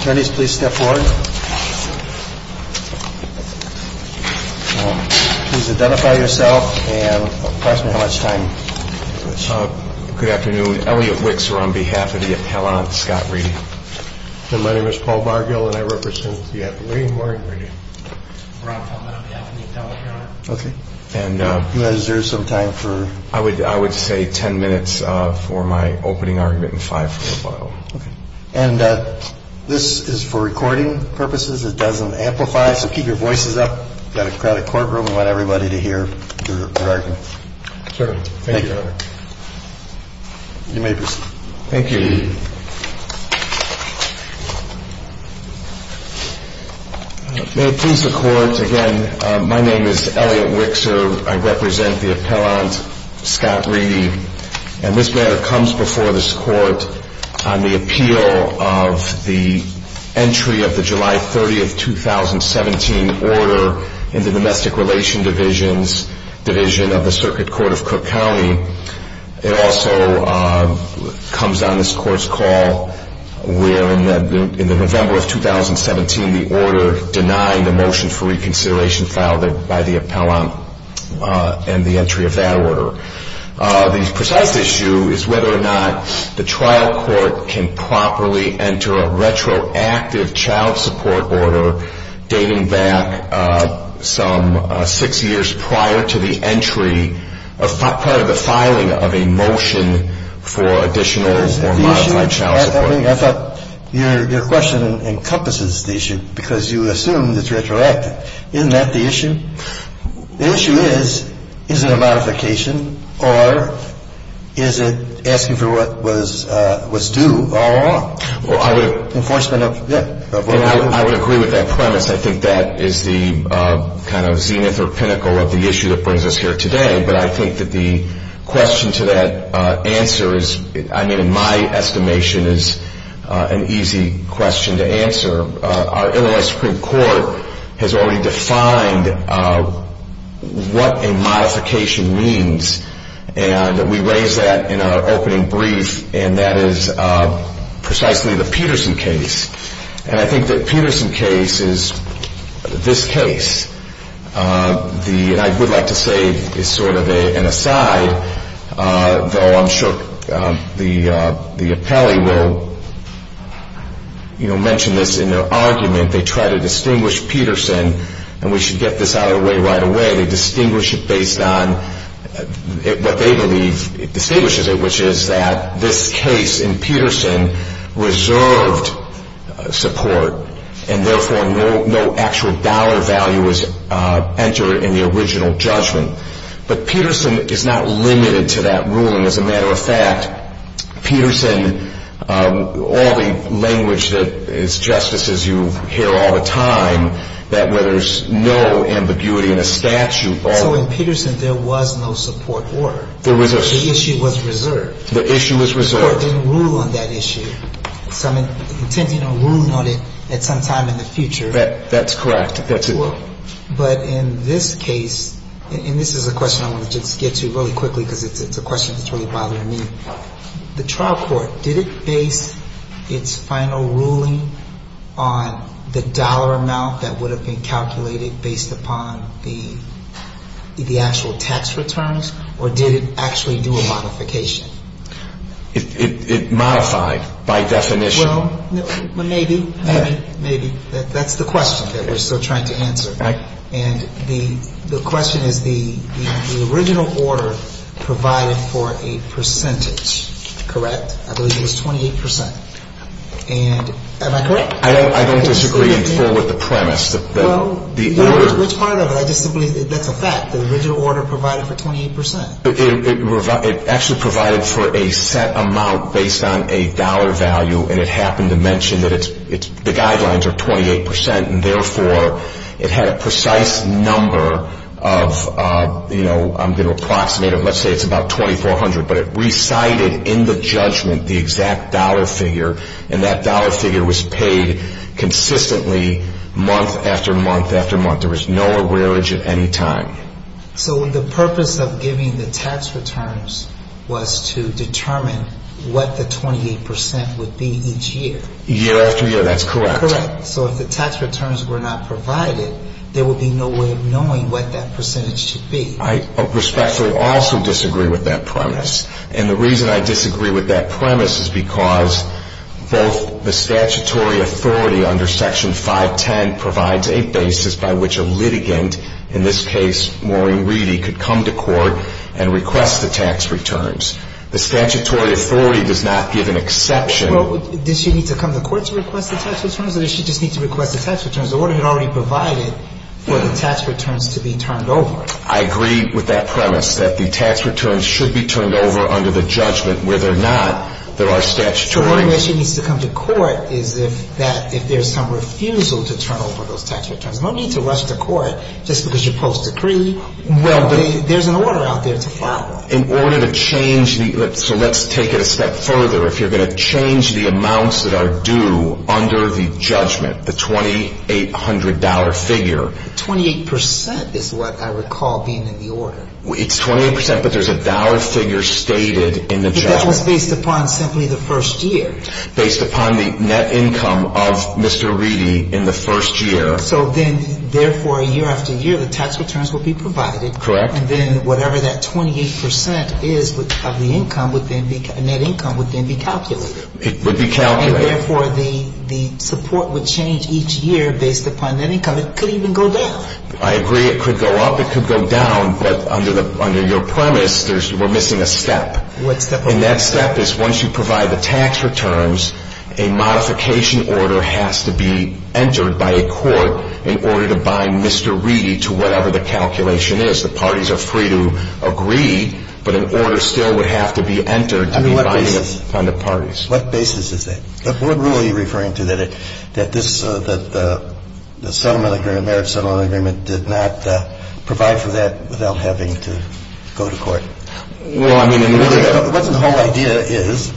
Attorneys please step forward. Please identify yourself and tell us how much time. Good afternoon, Elliot Wicks here on behalf of the appellant Scott Reedy. My name is Paul Bargill and I represent the appellant Warren Reedy. And I would say 10 minutes for my opening argument and five for rebuttal. And this is for recording purposes. It doesn't amplify. So keep your voices up. Got a crowded courtroom. I want everybody to hear your argument. Sure. Thank you. You may proceed. Thank you. May it please the court. Again, my name is Elliot Wicks. I represent the appellant Scott Reedy. And this matter comes before this court on the appeal of the entry of the July 30th, 2017 order in the Domestic Relations Division of the Circuit Court of Cook County. It also comes on this court's call where in the November of 2017 the order denying the motion for reconsideration filed by the appellant and the entry of that order. The precise issue is whether or not the trial court can properly enter a retroactive child support order dating back some six years prior to the entry of part of the filing of a motion for additional or modified child support. I thought your question encompasses the issue because you assumed it's retroactive. Isn't that the issue? The issue is, is it a modification or is it asking for what was due? I would agree with that premise. I think that is the kind of zenith or pinnacle of the issue that brings us here today. But I think that the question to that answer is, I mean, in my estimation is an easy question to answer. Our Illinois Supreme Court has already defined what a modification means. And we raised that in our opening brief. And that is precisely the Peterson case. And I think the Peterson case is this case. And I would like to say as sort of an aside, though I'm sure the appellee will mention this in their argument, they try to distinguish Peterson. And we should get this out of the way right away. They distinguish it based on what they believe distinguishes it, which is that this case in Peterson reserved support and therefore no actual dollar value was entered in the original judgment. But Peterson is not limited to that ruling. As a matter of fact, Peterson, all the language that is just as you hear all the time, that where there's no ambiguity in a statute. So in Peterson there was no support order. There was a. The issue was reserved. The issue was reserved. Support didn't rule on that issue. Some intent, you know, ruling on it at some time in the future. That's correct. That's it. Well, but in this case, and this is a question I want to just get to really quickly because it's a question that's really bothering me. The trial court, did it base its final ruling on the dollar amount that would have been calculated based upon the actual tax returns or did it actually do a modification? It modified by definition. Well, maybe, maybe, maybe that's the question that we're still trying to answer. And the question is the original order provided for a percentage. Correct. I believe it was 28 percent. And am I correct? I don't disagree with the premise. Which part of it? I just simply. That's a fact. The original order provided for 28 percent. It actually provided for a set amount based on a dollar value. And it happened to mention that the guidelines are 28 percent. And therefore, it had a precise number of, you know, I'm going to approximate it. Let's say it's about 2,400. But it recited in the judgment the exact dollar figure. And that dollar figure was paid consistently month after month after month. There was no average at any time. So the purpose of giving the tax returns was to determine what the 28 percent would be each year. Year after year, that's correct. Correct. So if the tax returns were not provided, there would be no way of knowing what that percentage should be. I respectfully also disagree with that premise. And the reason I disagree with that premise is because both the statutory authority under Section 510 provides a basis by which a litigant, in this case Maureen Reedy, could come to court and request the tax returns. The statutory authority does not give an exception. Well, does she need to come to court to request the tax returns, or does she just need to request the tax returns? The order had already provided for the tax returns to be turned over. I agree with that premise, that the tax returns should be turned over under the judgment whether or not there are statutory. The only way she needs to come to court is if there's some refusal to turn over those tax returns. No need to rush to court just because you post a decree. There's an order out there to follow. In order to change the – so let's take it a step further. If you're going to change the amounts that are due under the judgment, the $2,800 figure. Twenty-eight percent is what I recall being in the order. It's 28 percent, but there's a dollar figure stated in the judgment. That was based upon simply the first year. Based upon the net income of Mr. Reedy in the first year. So then, therefore, year after year, the tax returns will be provided. Correct. And then whatever that 28 percent is of the income would then be – net income would then be calculated. It would be calculated. And therefore, the support would change each year based upon net income. It could even go down. I agree. It could go up. It could go down. But under your premise, we're missing a step. What step? The step is once you provide the tax returns, a modification order has to be entered by a court in order to bind Mr. Reedy to whatever the calculation is. The parties are free to agree, but an order still would have to be entered to be binding upon the parties. What basis is that? What rule are you referring to that this – that the settlement agreement, the marriage settlement agreement, did not provide for that without having to go to court? Well, I mean – What the whole idea is,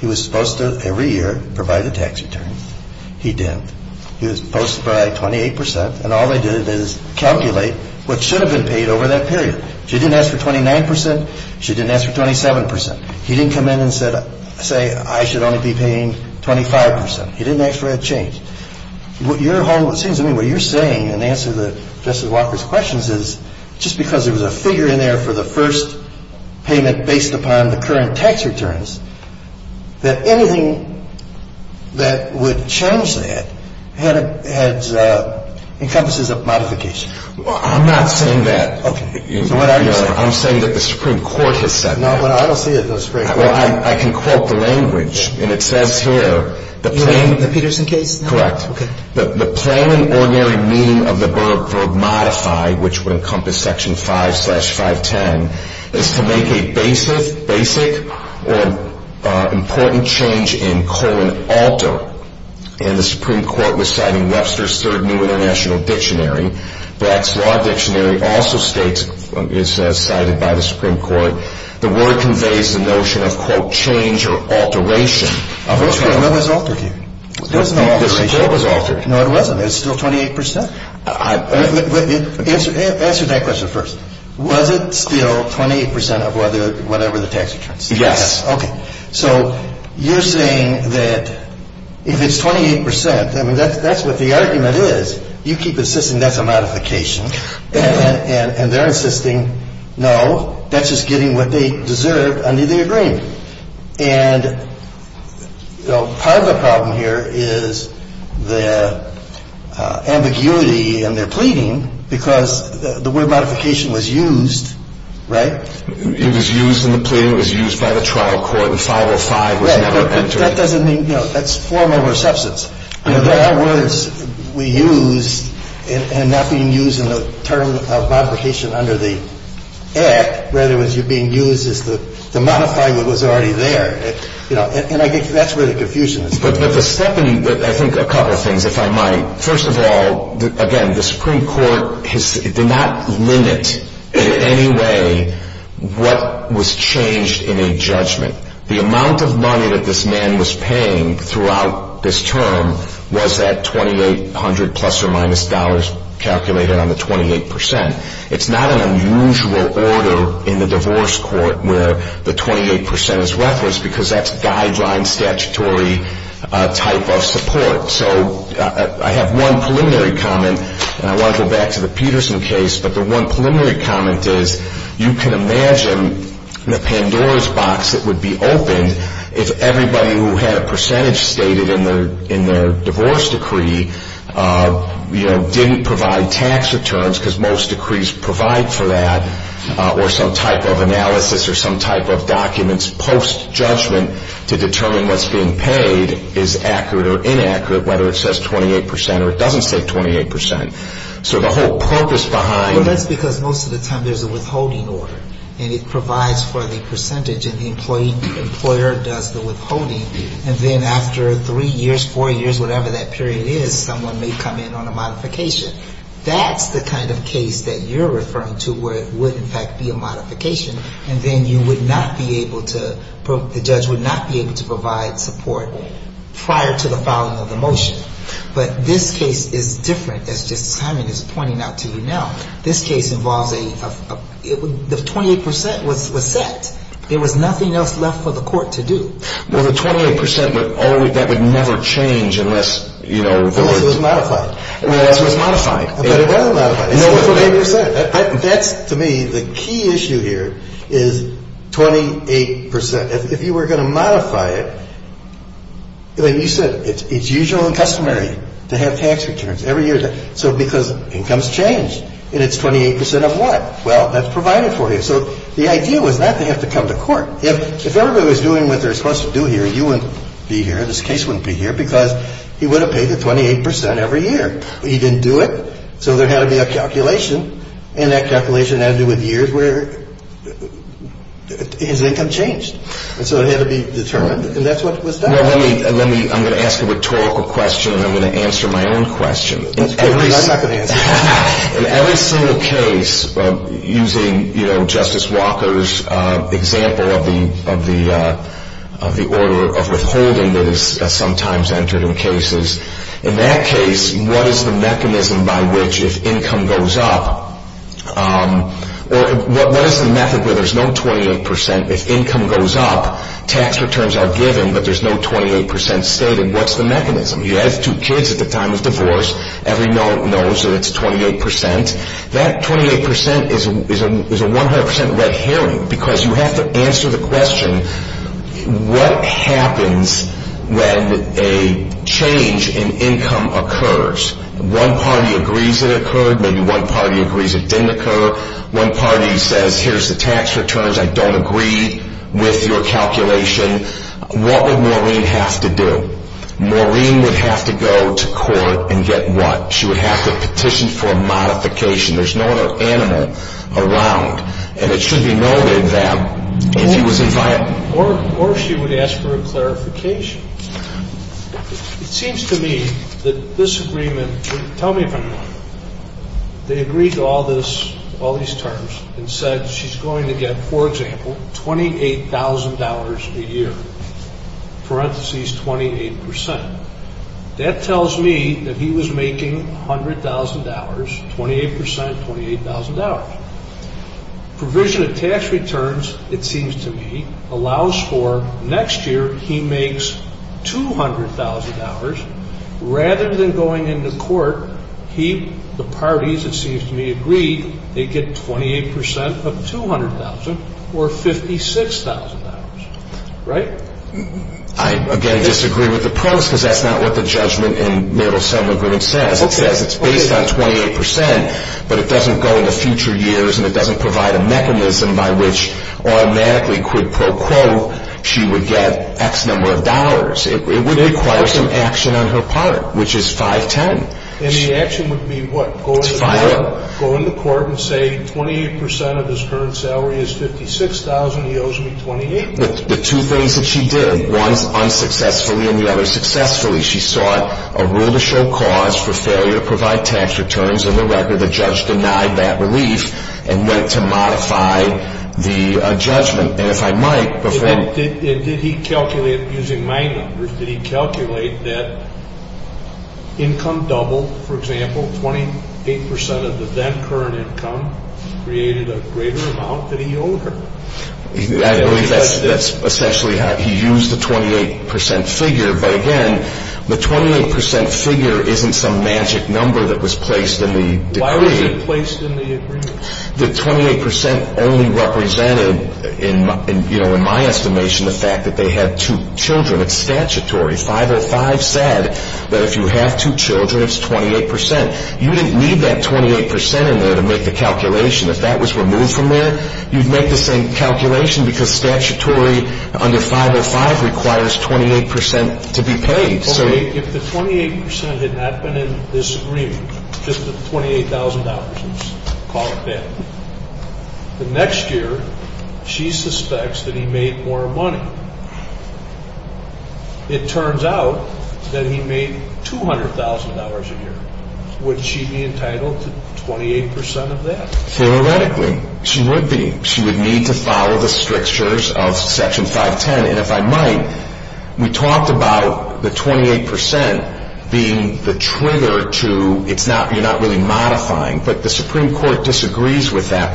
he was supposed to, every year, provide the tax returns. He didn't. He was supposed to provide 28 percent, and all they did is calculate what should have been paid over that period. She didn't ask for 29 percent. She didn't ask for 27 percent. He didn't come in and say, I should only be paying 25 percent. He didn't actually have change. I mean, what you're saying, in answer to Justice Walker's questions, is just because there was a figure in there for the first payment based upon the current tax returns, that anything that would change that had – encompasses a modification. I'm not saying that. Okay. So what are you saying? I'm saying that the Supreme Court has said that. No, but I don't see it. Well, I can quote the language, and it says here, the plain – Correct. The plain and ordinary meaning of the verb modify, which would encompass Section 5-510, is to make a basic or important change in colon alter. And the Supreme Court was citing Webster's Third New International Dictionary. Black's Law Dictionary also states – is cited by the Supreme Court. The word conveys the notion of, quote, change or alteration. What's alter here? There's no alteration. There was alter. No, there wasn't. There's still 28 percent. Answer that question first. Was it still 28 percent of whatever the tax returns? Yes. Okay. So you're saying that if it's 28 percent, I mean, that's what the argument is. You keep insisting that's a modification, and they're insisting, no, that's just getting what they deserve under the agreement. And, you know, part of the problem here is the ambiguity in their pleading because the word modification was used, right? It was used in the plea. It was used by the trial court in 505. It was never entered. Right. But that doesn't mean – you know, that's formal reception. In other words, we used – and not being used in the term of modification under the Act, rather it was being used as the modifying that was already there. You know, and I think that's where the confusion is. But the second – I think a couple of things, if I might. First of all, again, the Supreme Court did not limit in any way what was changed in a judgment. The amount of money that this man was paying throughout this term was at 2,800 plus or minus dollars calculated on the 28 percent. It's not an unusual order in the divorce court where the 28 percent is referenced because that's guideline statutory type of support. So I have one preliminary comment, and I want to go back to the Peterson case, but the one preliminary comment is you can imagine the Pandora's box that would be opened if everybody who had a percentage stated in their divorce decree, you know, didn't provide tax returns because most decrees provide for that, or some type of analysis or some type of documents post-judgment to determine what's being paid is accurate or inaccurate, whether it says 28 percent or it doesn't say 28 percent. So the whole purpose behind – Well, that's because most of the time there's a withholding order, and it provides for the percentage, and the employee – employer does the withholding. And then after three years, four years, whatever that period is, someone may come in on a modification. That's the kind of case that you're referring to where it would, in fact, be a modification, and then you would not be able to – the judge would not be able to provide support prior to the filing of the motion. But this case is different. As just Simon is pointing out to you now, this case involves a – the 28 percent was set. There was nothing else left for the court to do. Well, the 28 percent would always – that would never change unless, you know – Unless it was modified. Unless it was modified. But it wasn't modified. No. It was 28 percent. That's, to me, the key issue here is 28 percent. If you were going to modify it, like you said, it's usual and customary to have tax returns every year. So because incomes change, and it's 28 percent of what? So the idea was not to have to come to court. If everybody was doing what they're supposed to do here, you wouldn't be here, and this case wouldn't be here because he would have paid the 28 percent every year. He didn't do it, so there had to be a calculation, and that calculation had to do with years where his income changed. And so it had to be determined, and that's what was done. Well, let me – I'm going to ask a rhetorical question, and I'm going to answer my own question. That's good, because I'm not going to answer it. In every single case, using Justice Walker's example of the order of withholding that is sometimes entered in cases, in that case, what is the mechanism by which, if income goes up, or what is the method where there's no 28 percent if income goes up, tax returns are given, but there's no 28 percent stated? What's the mechanism? He has two kids at the time of divorce. Every note knows that it's 28 percent. That 28 percent is a 100 percent red herring, because you have to answer the question, what happens when a change in income occurs? One party agrees it occurred. Maybe one party agrees it didn't occur. One party says, here's the tax returns. I don't agree with your calculation. What would Maureen have to do? Maureen would have to go to court and get what? She would have to petition for a modification. There's no other animal around, and it should be noted that if he was inviolable. Or she would ask for a clarification. It seems to me that this agreement, tell me if I'm wrong. They agreed to all this, all these terms, and said she's going to get, for example, $28,000 a year, parentheses 28 percent. That tells me that he was making $100,000, 28 percent, $28,000. Provision of tax returns, it seems to me, allows for next year he makes $200,000. Rather than going into court, he, the parties, it seems to me, agree, they get 28 percent of $200,000 or $56,000. Right? I, again, disagree with the pros because that's not what the judgment in Meryl's settlement agreement says. It says it's based on 28 percent, but it doesn't go into future years, and it doesn't provide a mechanism by which automatically quid pro quo she would get X number of dollars. It would require some action on her part, which is 510. And the action would be what? Go into court and say 28 percent of his current salary is $56,000. He owes me $28,000. The two things that she did, one unsuccessfully and the other successfully, she sought a rule to show cause for failure to provide tax returns. On the record, the judge denied that belief and went to modify the judgment. And if I might, before I... Did he calculate using my numbers, did he calculate that income double, for example, 28 percent of the then current income created a greater amount that he owed her? I believe that's essentially how he used the 28 percent figure. But, again, the 28 percent figure isn't some magic number that was placed in the decree. Why was it placed in the agreement? The 28 percent only represented, in my estimation, the fact that they had two children. It's statutory. 505 said that if you have two children, it's 28 percent. You didn't need that 28 percent in there to make the calculation. If that was removed from there, you'd make the same calculation Okay, if the 28 percent had not been in this agreement, just the $28,000, let's call it that, the next year, she suspects that he made more money. It turns out that he made $200,000 a year. Would she be entitled to 28 percent of that? Theoretically, she would be. She would need to follow the strictures of Section 510. We talked about the 28 percent being the trigger. You're not really modifying. But the Supreme Court disagrees with that.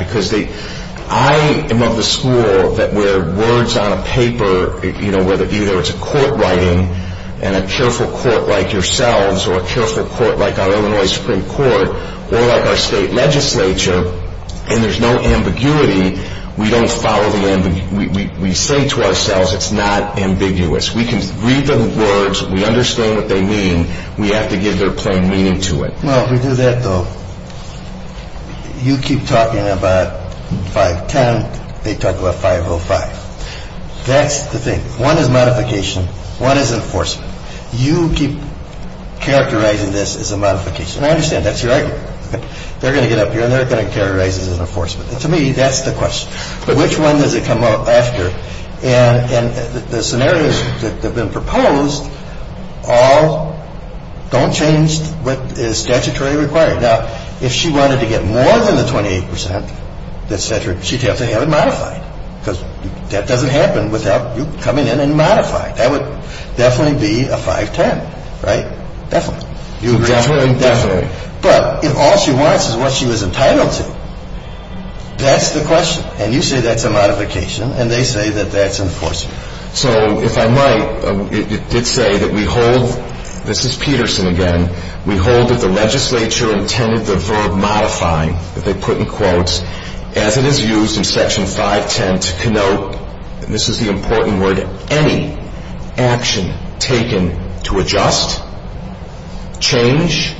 I am of the school that where words on a paper, whether it's a court writing and a careful court like yourselves, or a careful court like our Illinois Supreme Court, or like our state legislature, and there's no ambiguity, we don't follow the ambiguity. We say to ourselves it's not ambiguous. We can read the words. We understand what they mean. We have to give their plain meaning to it. Well, if we do that, though, you keep talking about 510. They talk about 505. That's the thing. One is modification. One is enforcement. You keep characterizing this as a modification. And I understand that's your argument. They're going to get up here and they're going to characterize this as enforcement. To me, that's the question. Which one does it come up after? And the scenarios that have been proposed all don't change what is statutorily required. Now, if she wanted to get more than the 28 percent, et cetera, she'd have to have it modified because that doesn't happen without you coming in and modifying. That would definitely be a 510, right? Definitely. You agree? Definitely. But if all she wants is what she was entitled to, that's the question. And you say that's a modification, and they say that that's enforcement. So if I might, it did say that we hold, this is Peterson again, we hold that the legislature intended the verb modifying, that they put in quotes, as it is used in Section 510 to connote, and this is the important word, any action taken to adjust, change,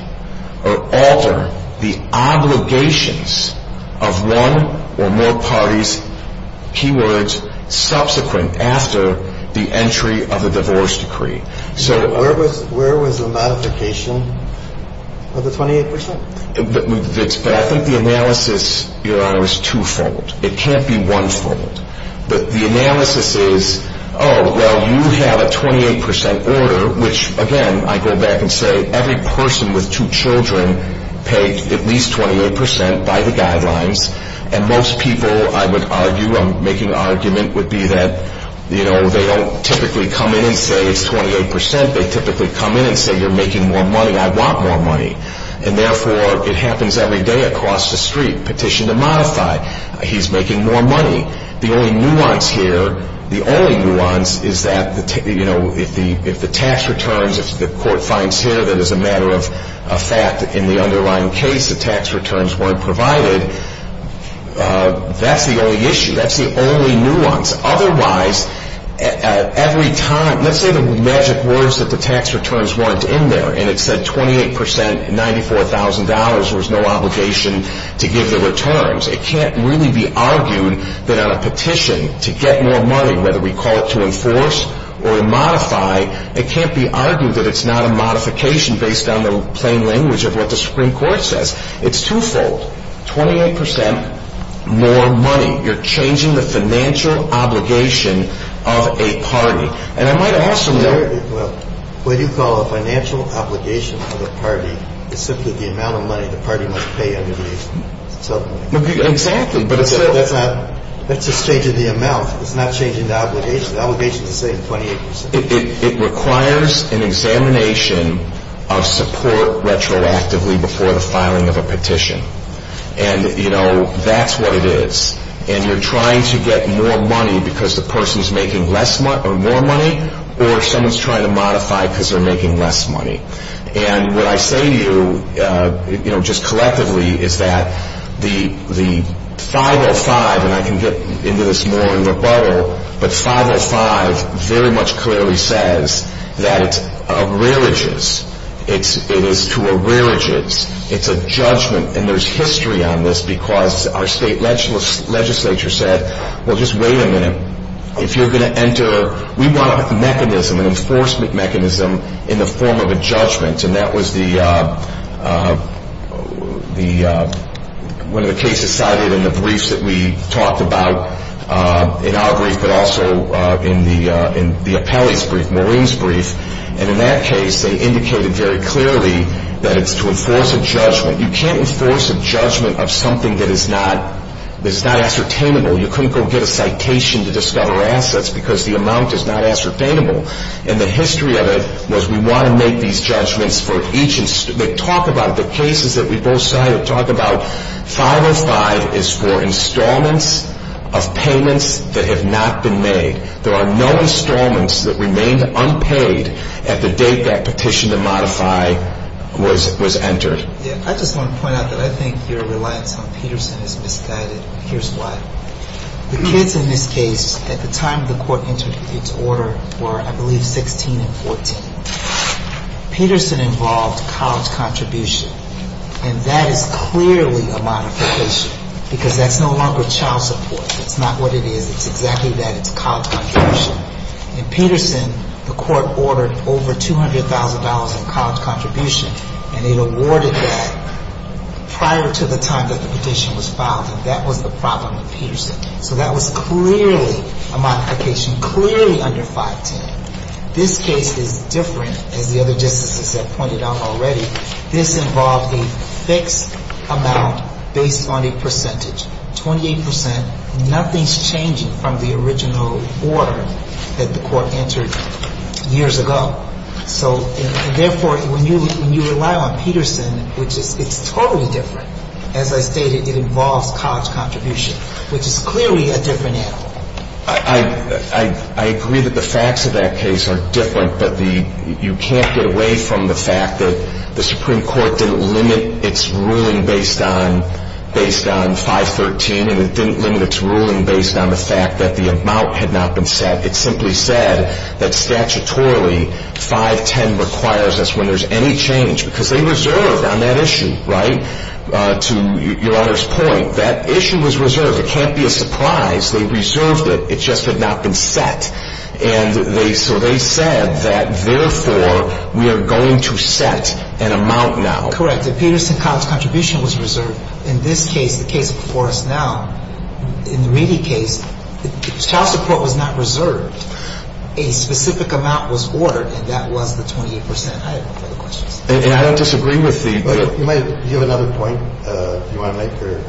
or alter the obligations of one or more parties, key words, subsequent after the entry of the divorce decree. So where was the modification of the 28 percent? But I think the analysis, Your Honor, is twofold. It can't be onefold. But the analysis is, oh, well, you have a 28 percent order, which, again, I go back and say every person with two children paid at least 28 percent by the guidelines, and most people, I would argue, I'm making an argument, would be that, you know, they don't typically come in and say it's 28 percent. They typically come in and say you're making more money, I want more money. And therefore, it happens every day across the street, petition to modify, he's making more money. The only nuance here, the only nuance is that, you know, if the tax returns, if the court finds here that as a matter of fact in the underlying case the tax returns weren't provided, that's the only issue. That's the only nuance. Otherwise, every time, let's say the magic words that the tax returns weren't in there, and it said 28 percent, $94,000, there was no obligation to give the returns. It can't really be argued that on a petition to get more money, whether we call it to enforce or modify, it can't be argued that it's not a modification based on the plain language of what the Supreme Court says. It's twofold. Twenty-eight percent more money. You're changing the financial obligation of a party. And I might ask some more. What you call a financial obligation of the party is simply the amount of money the party must pay under the settlement. Exactly. That's a change in the amount. It's not changing the obligation. The obligation is the same 28 percent. It requires an examination of support retroactively before the filing of a petition. And, you know, that's what it is. And you're trying to get more money because the person's making more money, or someone's trying to modify because they're making less money. And what I say to you, you know, just collectively, is that the 505, and I can get into this more in rebuttal, but 505 very much clearly says that it's a religious. It is to a religious. It's a judgment. And there's history on this because our state legislature said, well, just wait a minute. If you're going to enter, we want a mechanism, an enforcement mechanism in the form of a judgment. And that was one of the cases cited in the briefs that we talked about, in our brief, but also in the appellee's brief, Maureen's brief. And in that case, they indicated very clearly that it's to enforce a judgment. You can't enforce a judgment of something that is not ascertainable. You couldn't go get a citation to discover assets because the amount is not ascertainable. And the history of it was we want to make these judgments for each institution. They talk about it. The cases that we both cited talk about 505 is for installments of payments that have not been made. There are no installments that remained unpaid at the date that petition to modify was entered. Yeah. I just want to point out that I think your reliance on Peterson is misguided. Here's why. The kids in this case, at the time the court entered its order, were, I believe, 16 and 14. Peterson involved college contribution. And that is clearly a modification because that's no longer child support. It's not what it is. It's exactly that. It's college contribution. In Peterson, the court ordered over $200,000 in college contribution. And it awarded that prior to the time that the petition was filed. And that was the problem with Peterson. So that was clearly a modification, clearly under 510. This case is different, as the other justices have pointed out already. This involved a fixed amount based on a percentage, 28%. Nothing's changing from the original order that the court entered years ago. So, and therefore, when you rely on Peterson, which is totally different, as I stated, it involves college contribution, which is clearly a different animal. I agree that the facts of that case are different, but you can't get away from the fact that the Supreme Court didn't limit its ruling based on 513 and it didn't limit its ruling based on the fact that the amount had not been set. It simply said that statutorily, 510 requires us when there's any change because they reserved on that issue, right? To your Honor's point, that issue was reserved. It can't be a surprise. They reserved it. It just had not been set. And they, so they said that, therefore, we are going to set an amount now. Correct. The Peterson college contribution was reserved. In this case, the case before us now, in the Reedy case, child support was not reserved. A specific amount was ordered, and that was the 28%. I have no further questions. And I don't disagree with the. You might, you have another point, if you want to make your,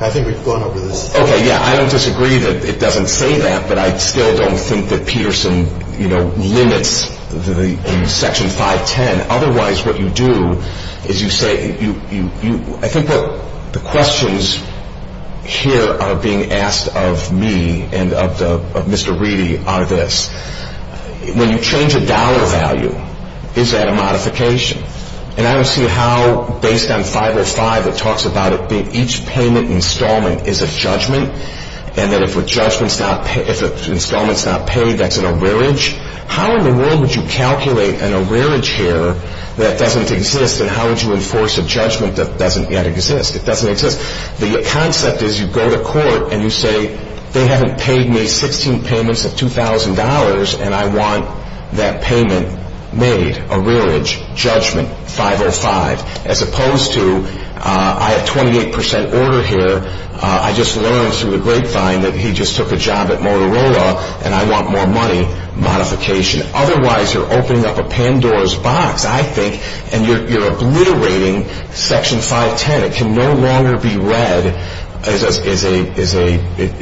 I think we've gone over this. Okay, yeah, I don't disagree that it doesn't say that, but I still don't think that Peterson, you know, limits the Section 510. Otherwise, what you do is you say, I think what the questions here are being asked of me and of Mr. Reedy are this. When you change a dollar value, is that a modification? And I don't see how, based on 505, it talks about it being each payment installment is a judgment, and that if a judgment's not, if an installment's not paid, that's an arrearage. How in the world would you calculate an arrearage here that doesn't exist, and how would you enforce a judgment that doesn't yet exist? It doesn't exist. The concept is you go to court and you say, they haven't paid me 16 payments of $2,000, and I want that payment made, arrearage, judgment, 505, as opposed to I have 28% order here. I just learned through a grapevine that he just took a job at Motorola, and I want more money, modification. Otherwise, you're opening up a Pandora's box, I think, and you're obliterating Section 510. It can no longer be read as a,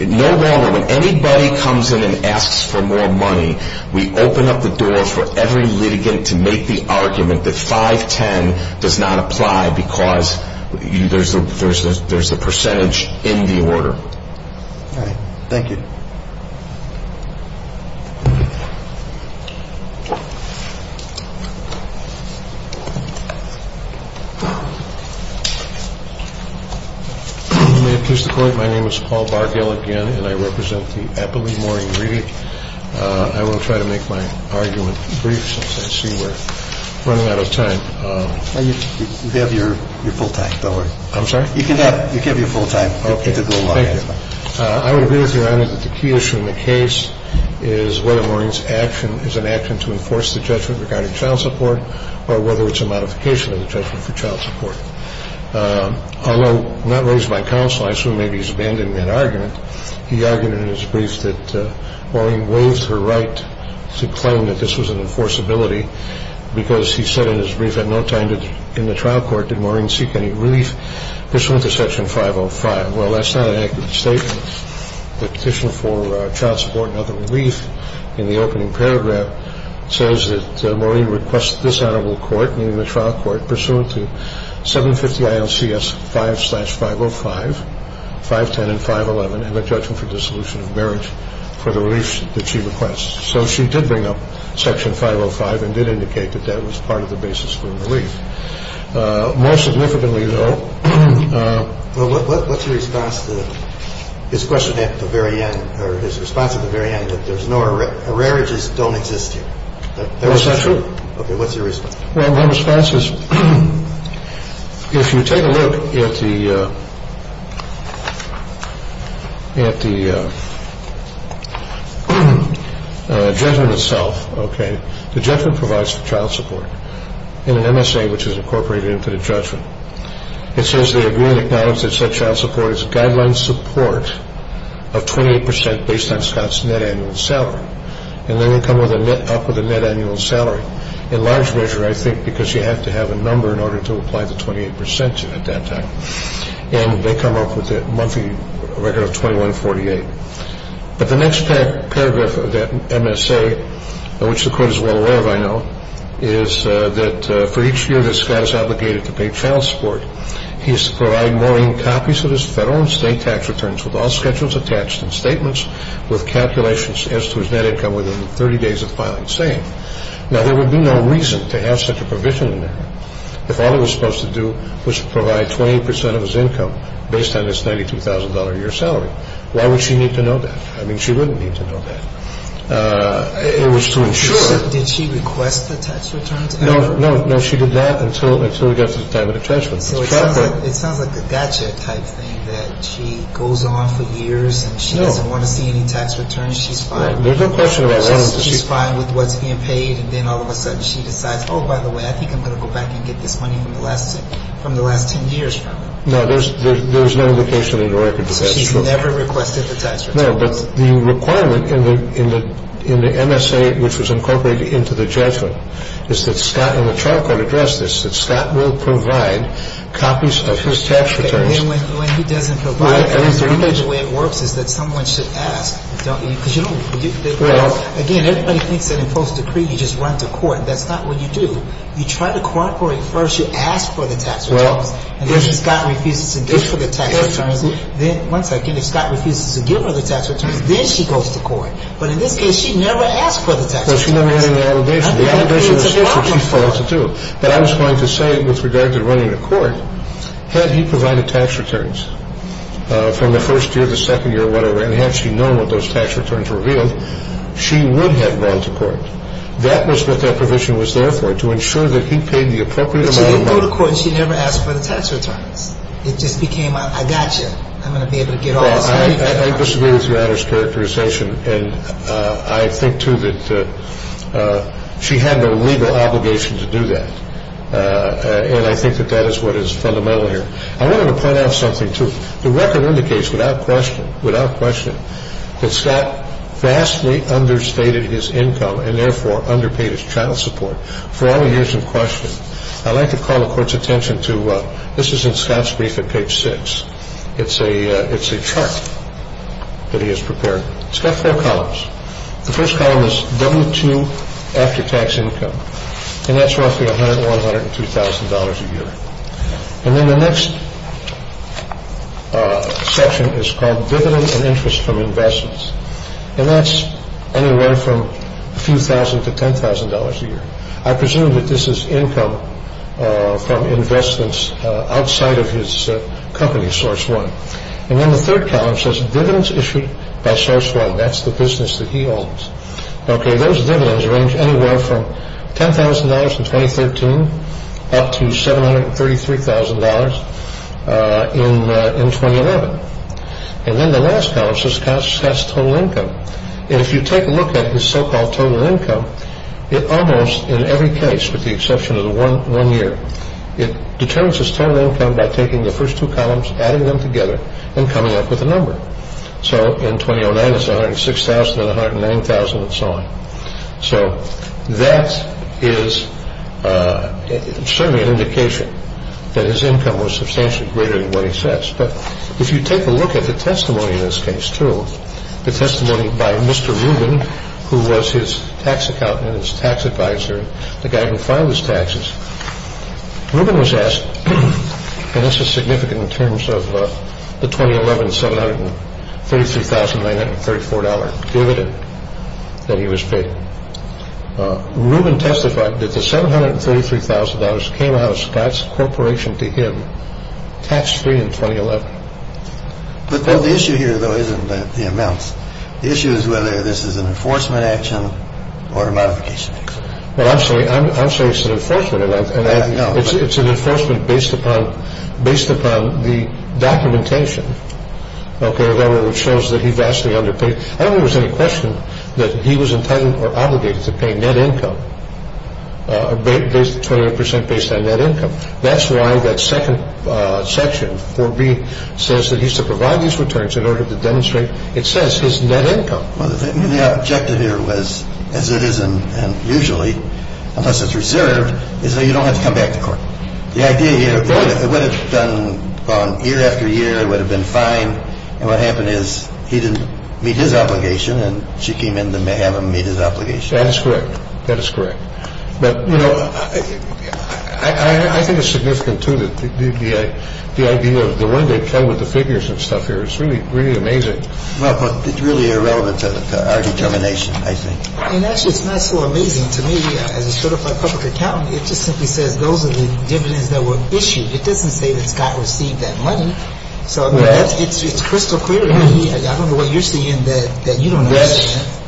no longer, when anybody comes in and asks for more money, we open up the door for every litigant to make the argument that 510 does not apply because there's the percentage in the order. All right. Thank you. May it please the Court, my name is Paul Bargill again, and I represent the Eppley-Moore Ingredient. I will try to make my argument brief since I see we're running out of time. You have your full time, don't worry. I'm sorry? You can have your full time. Okay. Thank you. I would agree with Your Honor that the key issue in the case is whether Maureen's action is an action to enforce the judgment regarding child support or whether it's a modification of the judgment for child support. Although not raised by counsel, I assume maybe he's abandoning that argument, he argued in his brief that Maureen waived her right to claim that this was an enforceability because he said in his brief at no time in the trial court did Maureen seek any relief pursuant to Section 505. Well, that's not an accurate statement. The Petition for Child Support and Other Relief in the opening paragraph says that Maureen requests this honorable court, meaning the trial court, pursuant to 750 ILCS 5-505, 510 and 511, have a judgment for dissolution of marriage for the relief that she requests. So she did bring up Section 505 and did indicate that that was part of the basis for relief. More significantly, though. Well, what's your response to his question at the very end, or his response at the very end, that there's no arrearages don't exist here? That's not true. Okay. What's your response? Well, my response is if you take a look at the judgment itself, okay, the judgment provides for child support in an MSA which is incorporated into the judgment. It says they agree and acknowledge that such child support is a guideline support of 28 percent based on Scott's net annual salary, and then they come up with a net annual salary. In large measure, I think, because you have to have a number in order to apply the 28 percent at that time. And they come up with a monthly record of 2148. But the next paragraph of that MSA, which the court is well aware of, I know, is that for each year that Scott is obligated to pay child support, he is to provide Maureen copies of his federal and state tax returns with all schedules attached and statements with calculations as to his net income within 30 days of filing. And that's what the statute is saying. Now, there would be no reason to have such a provision in there if all he was supposed to do was provide 28 percent of his income based on his $92,000 a year salary. Why would she need to know that? I mean, she wouldn't need to know that. It was to ensure. Did she request the tax returns? No. No. No, she did not until we got to the time of the judgment. So it sounds like a gotcha type thing that she goes on for years and she doesn't want to see any tax returns. She's fine. There's no question about wanting to see tax returns. She's fine with what's being paid. And then all of a sudden she decides, oh, by the way, I think I'm going to go back and get this money from the last 10 years. No, there's no indication that you're going to get the tax returns. She's never requested the tax returns. No, but the requirement in the MSA which was incorporated into the judgment is that Scott and the trial court addressed this, that Scott will provide copies of his tax returns. And when he doesn't provide them, the only way it works is that someone should ask. Because, you know, again, everybody thinks that in post-decree you just run to court. That's not what you do. You try to cooperate first. You ask for the tax returns. And if Scott refuses to give her the tax returns, then she goes to court. But in this case, she never asked for the tax returns. No, she never had any allegation. The individual is supposed to do. But I was going to say with regard to running a court, had he provided tax returns from the first year, the second year, whatever, and had she known what those tax returns revealed, she would have gone to court. That was what that provision was there for, to ensure that he paid the appropriate amount of money. But she didn't go to court and she never asked for the tax returns. It just became, I got you. I'm going to be able to get all this money. Well, I disagree with your Honor's characterization. And I think, too, that she had no legal obligation to do that. And I think that that is what is fundamental here. I wanted to point out something, too. The record indicates without question, without question, that Scott vastly understated his income and therefore underpaid his child support for all the years in question. I'd like to call the Court's attention to this is in Scott's brief at page 6. It's a chart that he has prepared. It's got four columns. The first column is W-2 after tax income. And that's roughly $100,000 or $102,000 a year. And then the next section is called Dividends and Interest from Investments. And that's anywhere from a few thousand to $10,000 a year. I presume that this is income from investments outside of his company, Source One. And then the third column says Dividends Issued by Source One. That's the business that he owns. Okay, those dividends range anywhere from $10,000 in 2013 up to $733,000 in 2011. And then the last column says Scott's total income. And if you take a look at his so-called total income, it almost in every case, with the exception of the one year, it determines his total income by taking the first two columns, adding them together, and coming up with a number. So in 2009, it's $106,000 and $109,000 and so on. So that is certainly an indication that his income was substantially greater than what he says. But if you take a look at the testimony in this case too, the testimony by Mr. Rubin, who was his tax accountant and his tax advisor, the guy who filed his taxes, Rubin was asked, and this is significant in terms of the 2011 $733,934 dividend that he was paid. Rubin testified that the $733,000 came out of Scott's corporation to him tax-free in 2011. But the issue here, though, isn't the amounts. The issue is whether this is an enforcement action or a modification action. I'm sorry, it's an enforcement. It's an enforcement based upon the documentation, okay, which shows that he vastly underpaid. I don't think there was any question that he was entitled or obligated to pay net income, 20 percent based on net income. That's why that second section, 4B, says that he's to provide these returns in order to demonstrate, it says, his net income. Well, the objective here was, as it is usually, unless it's reserved, is that you don't have to come back to court. The idea here, it would have gone on year after year. It would have been fine. And what happened is he didn't meet his obligation, and she came in to have him meet his obligation. That is correct. That is correct. But, you know, I think it's significant too that the idea of the one that came with the figures and stuff here is really amazing. Well, it's really irrelevant to our determination, I think. And actually, it's not so amazing to me, as a certified public accountant. It just simply says those are the dividends that were issued. It doesn't say that Scott received that money. So it's crystal clear to me. I don't know what you're saying that you don't know what I'm saying.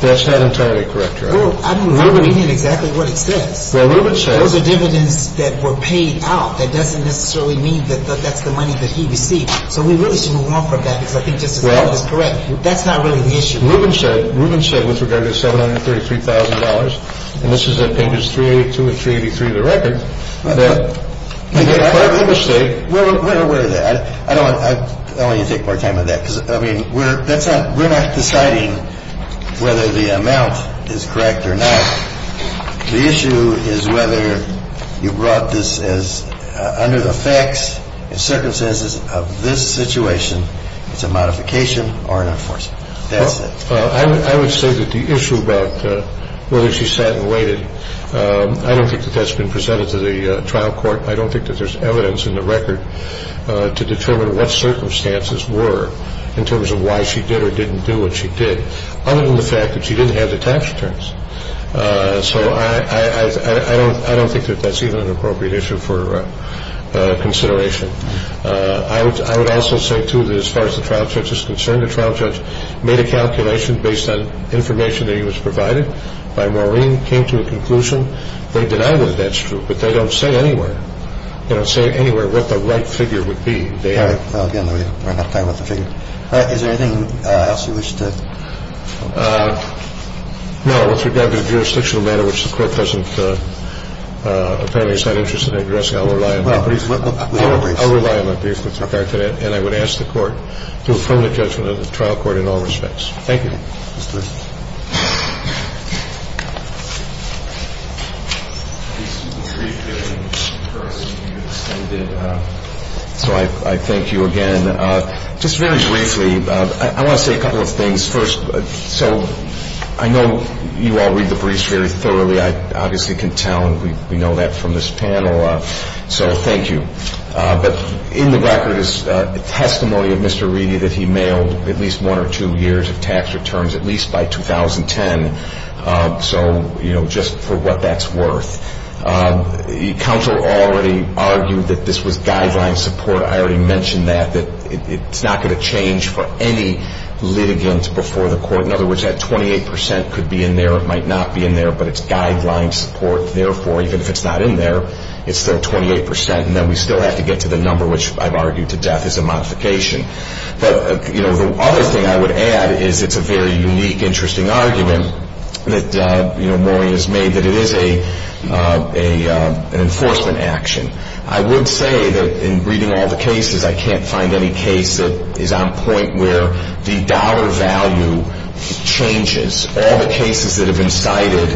That's not entirely correct, Your Honor. I don't even know exactly what it says. Well, Ruben says. Those are dividends that were paid out. That doesn't necessarily mean that that's the money that he received. So we really should move on from that, because I think Justice Sotomayor is correct. That's not really the issue. Ruben said, with regard to the $733,000, and this is at pages 382 and 383 of the record, that part of the mistake. We're aware of that. I don't want you to take more time on that, because, I mean, we're not deciding whether the amount is correct or not. The issue is whether you brought this as under the facts and circumstances of this situation. It's a modification or an enforcement. That's it. I would say that the issue about whether she sat and waited, I don't think that that's been presented to the trial court. I don't think that there's evidence in the record to determine what circumstances were in terms of why she did or didn't do what she did, other than the fact that she didn't have the tax returns. So I don't think that that's even an appropriate issue for consideration. I would also say, too, that as far as the trial judge is concerned, the trial judge made a calculation based on information that he was provided by Maureen, came to a conclusion. They deny whether that's true, but they don't say anywhere. They don't say anywhere what the right figure would be. Again, we're not talking about the figure. Is there anything else you wish to add? No. With regard to the jurisdictional matter, which the Court doesn't apparently sign interest in addressing, I'll rely on my brief. I'll rely on my brief with regard to that. And I would ask the Court to affirm the judgment of the trial court in all respects. Thank you. So I thank you again. Just very briefly, I want to say a couple of things. First, so I know you all read the briefs very thoroughly. I obviously can tell, and we know that from this panel. So thank you. But in the record is testimony of Mr. Reedy that he mailed at least one or two years of tax returns, at least by 2010. So, you know, just for what that's worth. The counsel already argued that this was guideline support. I already mentioned that, that it's not going to change for any litigant before the Court. In other words, that 28% could be in there. It might not be in there, but it's guideline support. Therefore, even if it's not in there, it's still 28%. And then we still have to get to the number, which I've argued to death is a modification. But, you know, the other thing I would add is it's a very unique, interesting argument that, you know, Maury has made that it is an enforcement action. I would say that in reading all the cases, I can't find any case that is on point where the dollar value changes. All the cases that have been cited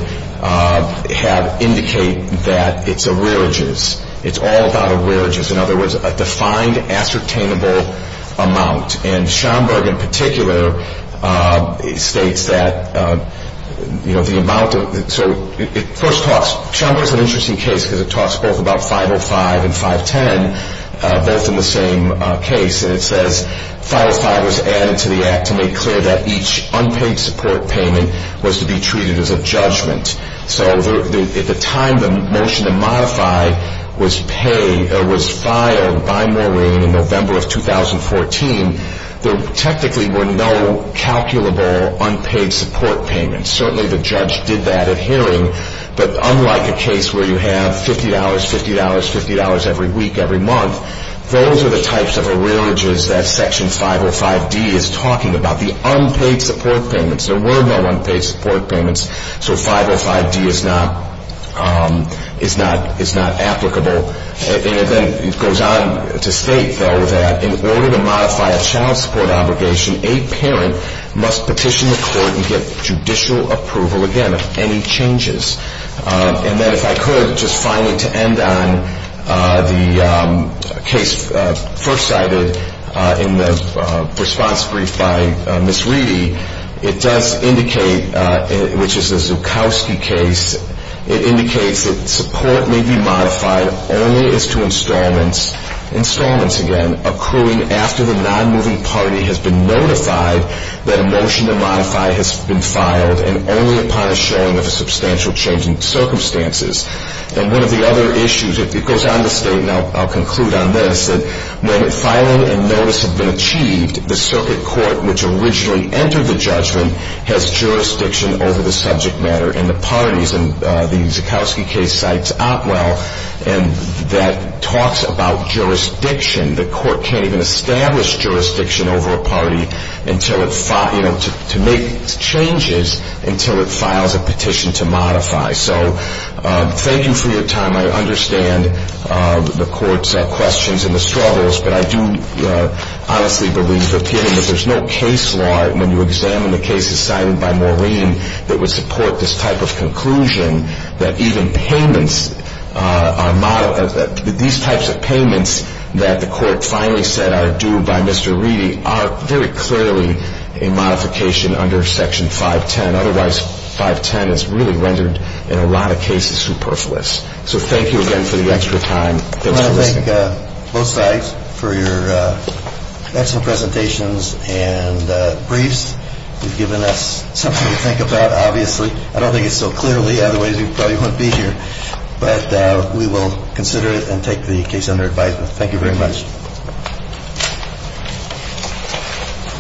have indicated that it's arrearages. It's all about arrearages. In other words, a defined ascertainable amount. And Schomburg, in particular, states that, you know, the amount of the – so it first talks – both in the same case. And it says, So at the time the motion to modify was filed by Maury in November of 2014, there technically were no calculable unpaid support payments. Certainly the judge did that at hearing. But unlike a case where you have $50, $50, $50 every week, every month, those are the types of arrearages that Section 505D is talking about, the unpaid support payments. There were no unpaid support payments. So 505D is not applicable. And then it goes on to state, though, that And then if I could, just finally to end on the case first cited in the response brief by Ms. Reedy, it does indicate, which is the Zukowski case, And one of the other issues, it goes on to state, and I'll conclude on this, that when filing and notice have been achieved, the circuit court which originally entered the judgment has jurisdiction over the subject matter in the parties. And the Zukowski case cites Otwell, and that talks about jurisdiction. The court can't even establish jurisdiction over a party until it – you know, to make changes until it files a petition to modify. So thank you for your time. I understand the court's questions and the struggles, but I do honestly believe the opinion that there's no case law when you examine the cases cited by Maureen that would support this type of conclusion, that even payments are – that these types of payments that the court finally said are due by Mr. Reedy are very clearly a modification under Section 510. Otherwise, 510 is really rendered in a lot of cases superfluous. So thank you again for the extra time. I want to thank both sides for your excellent presentations and briefs. You've given us something to think about, obviously. I don't think it's so clearly, otherwise we probably wouldn't be here. But we will consider it and take the case under advisement. Thank you very much. Thank you.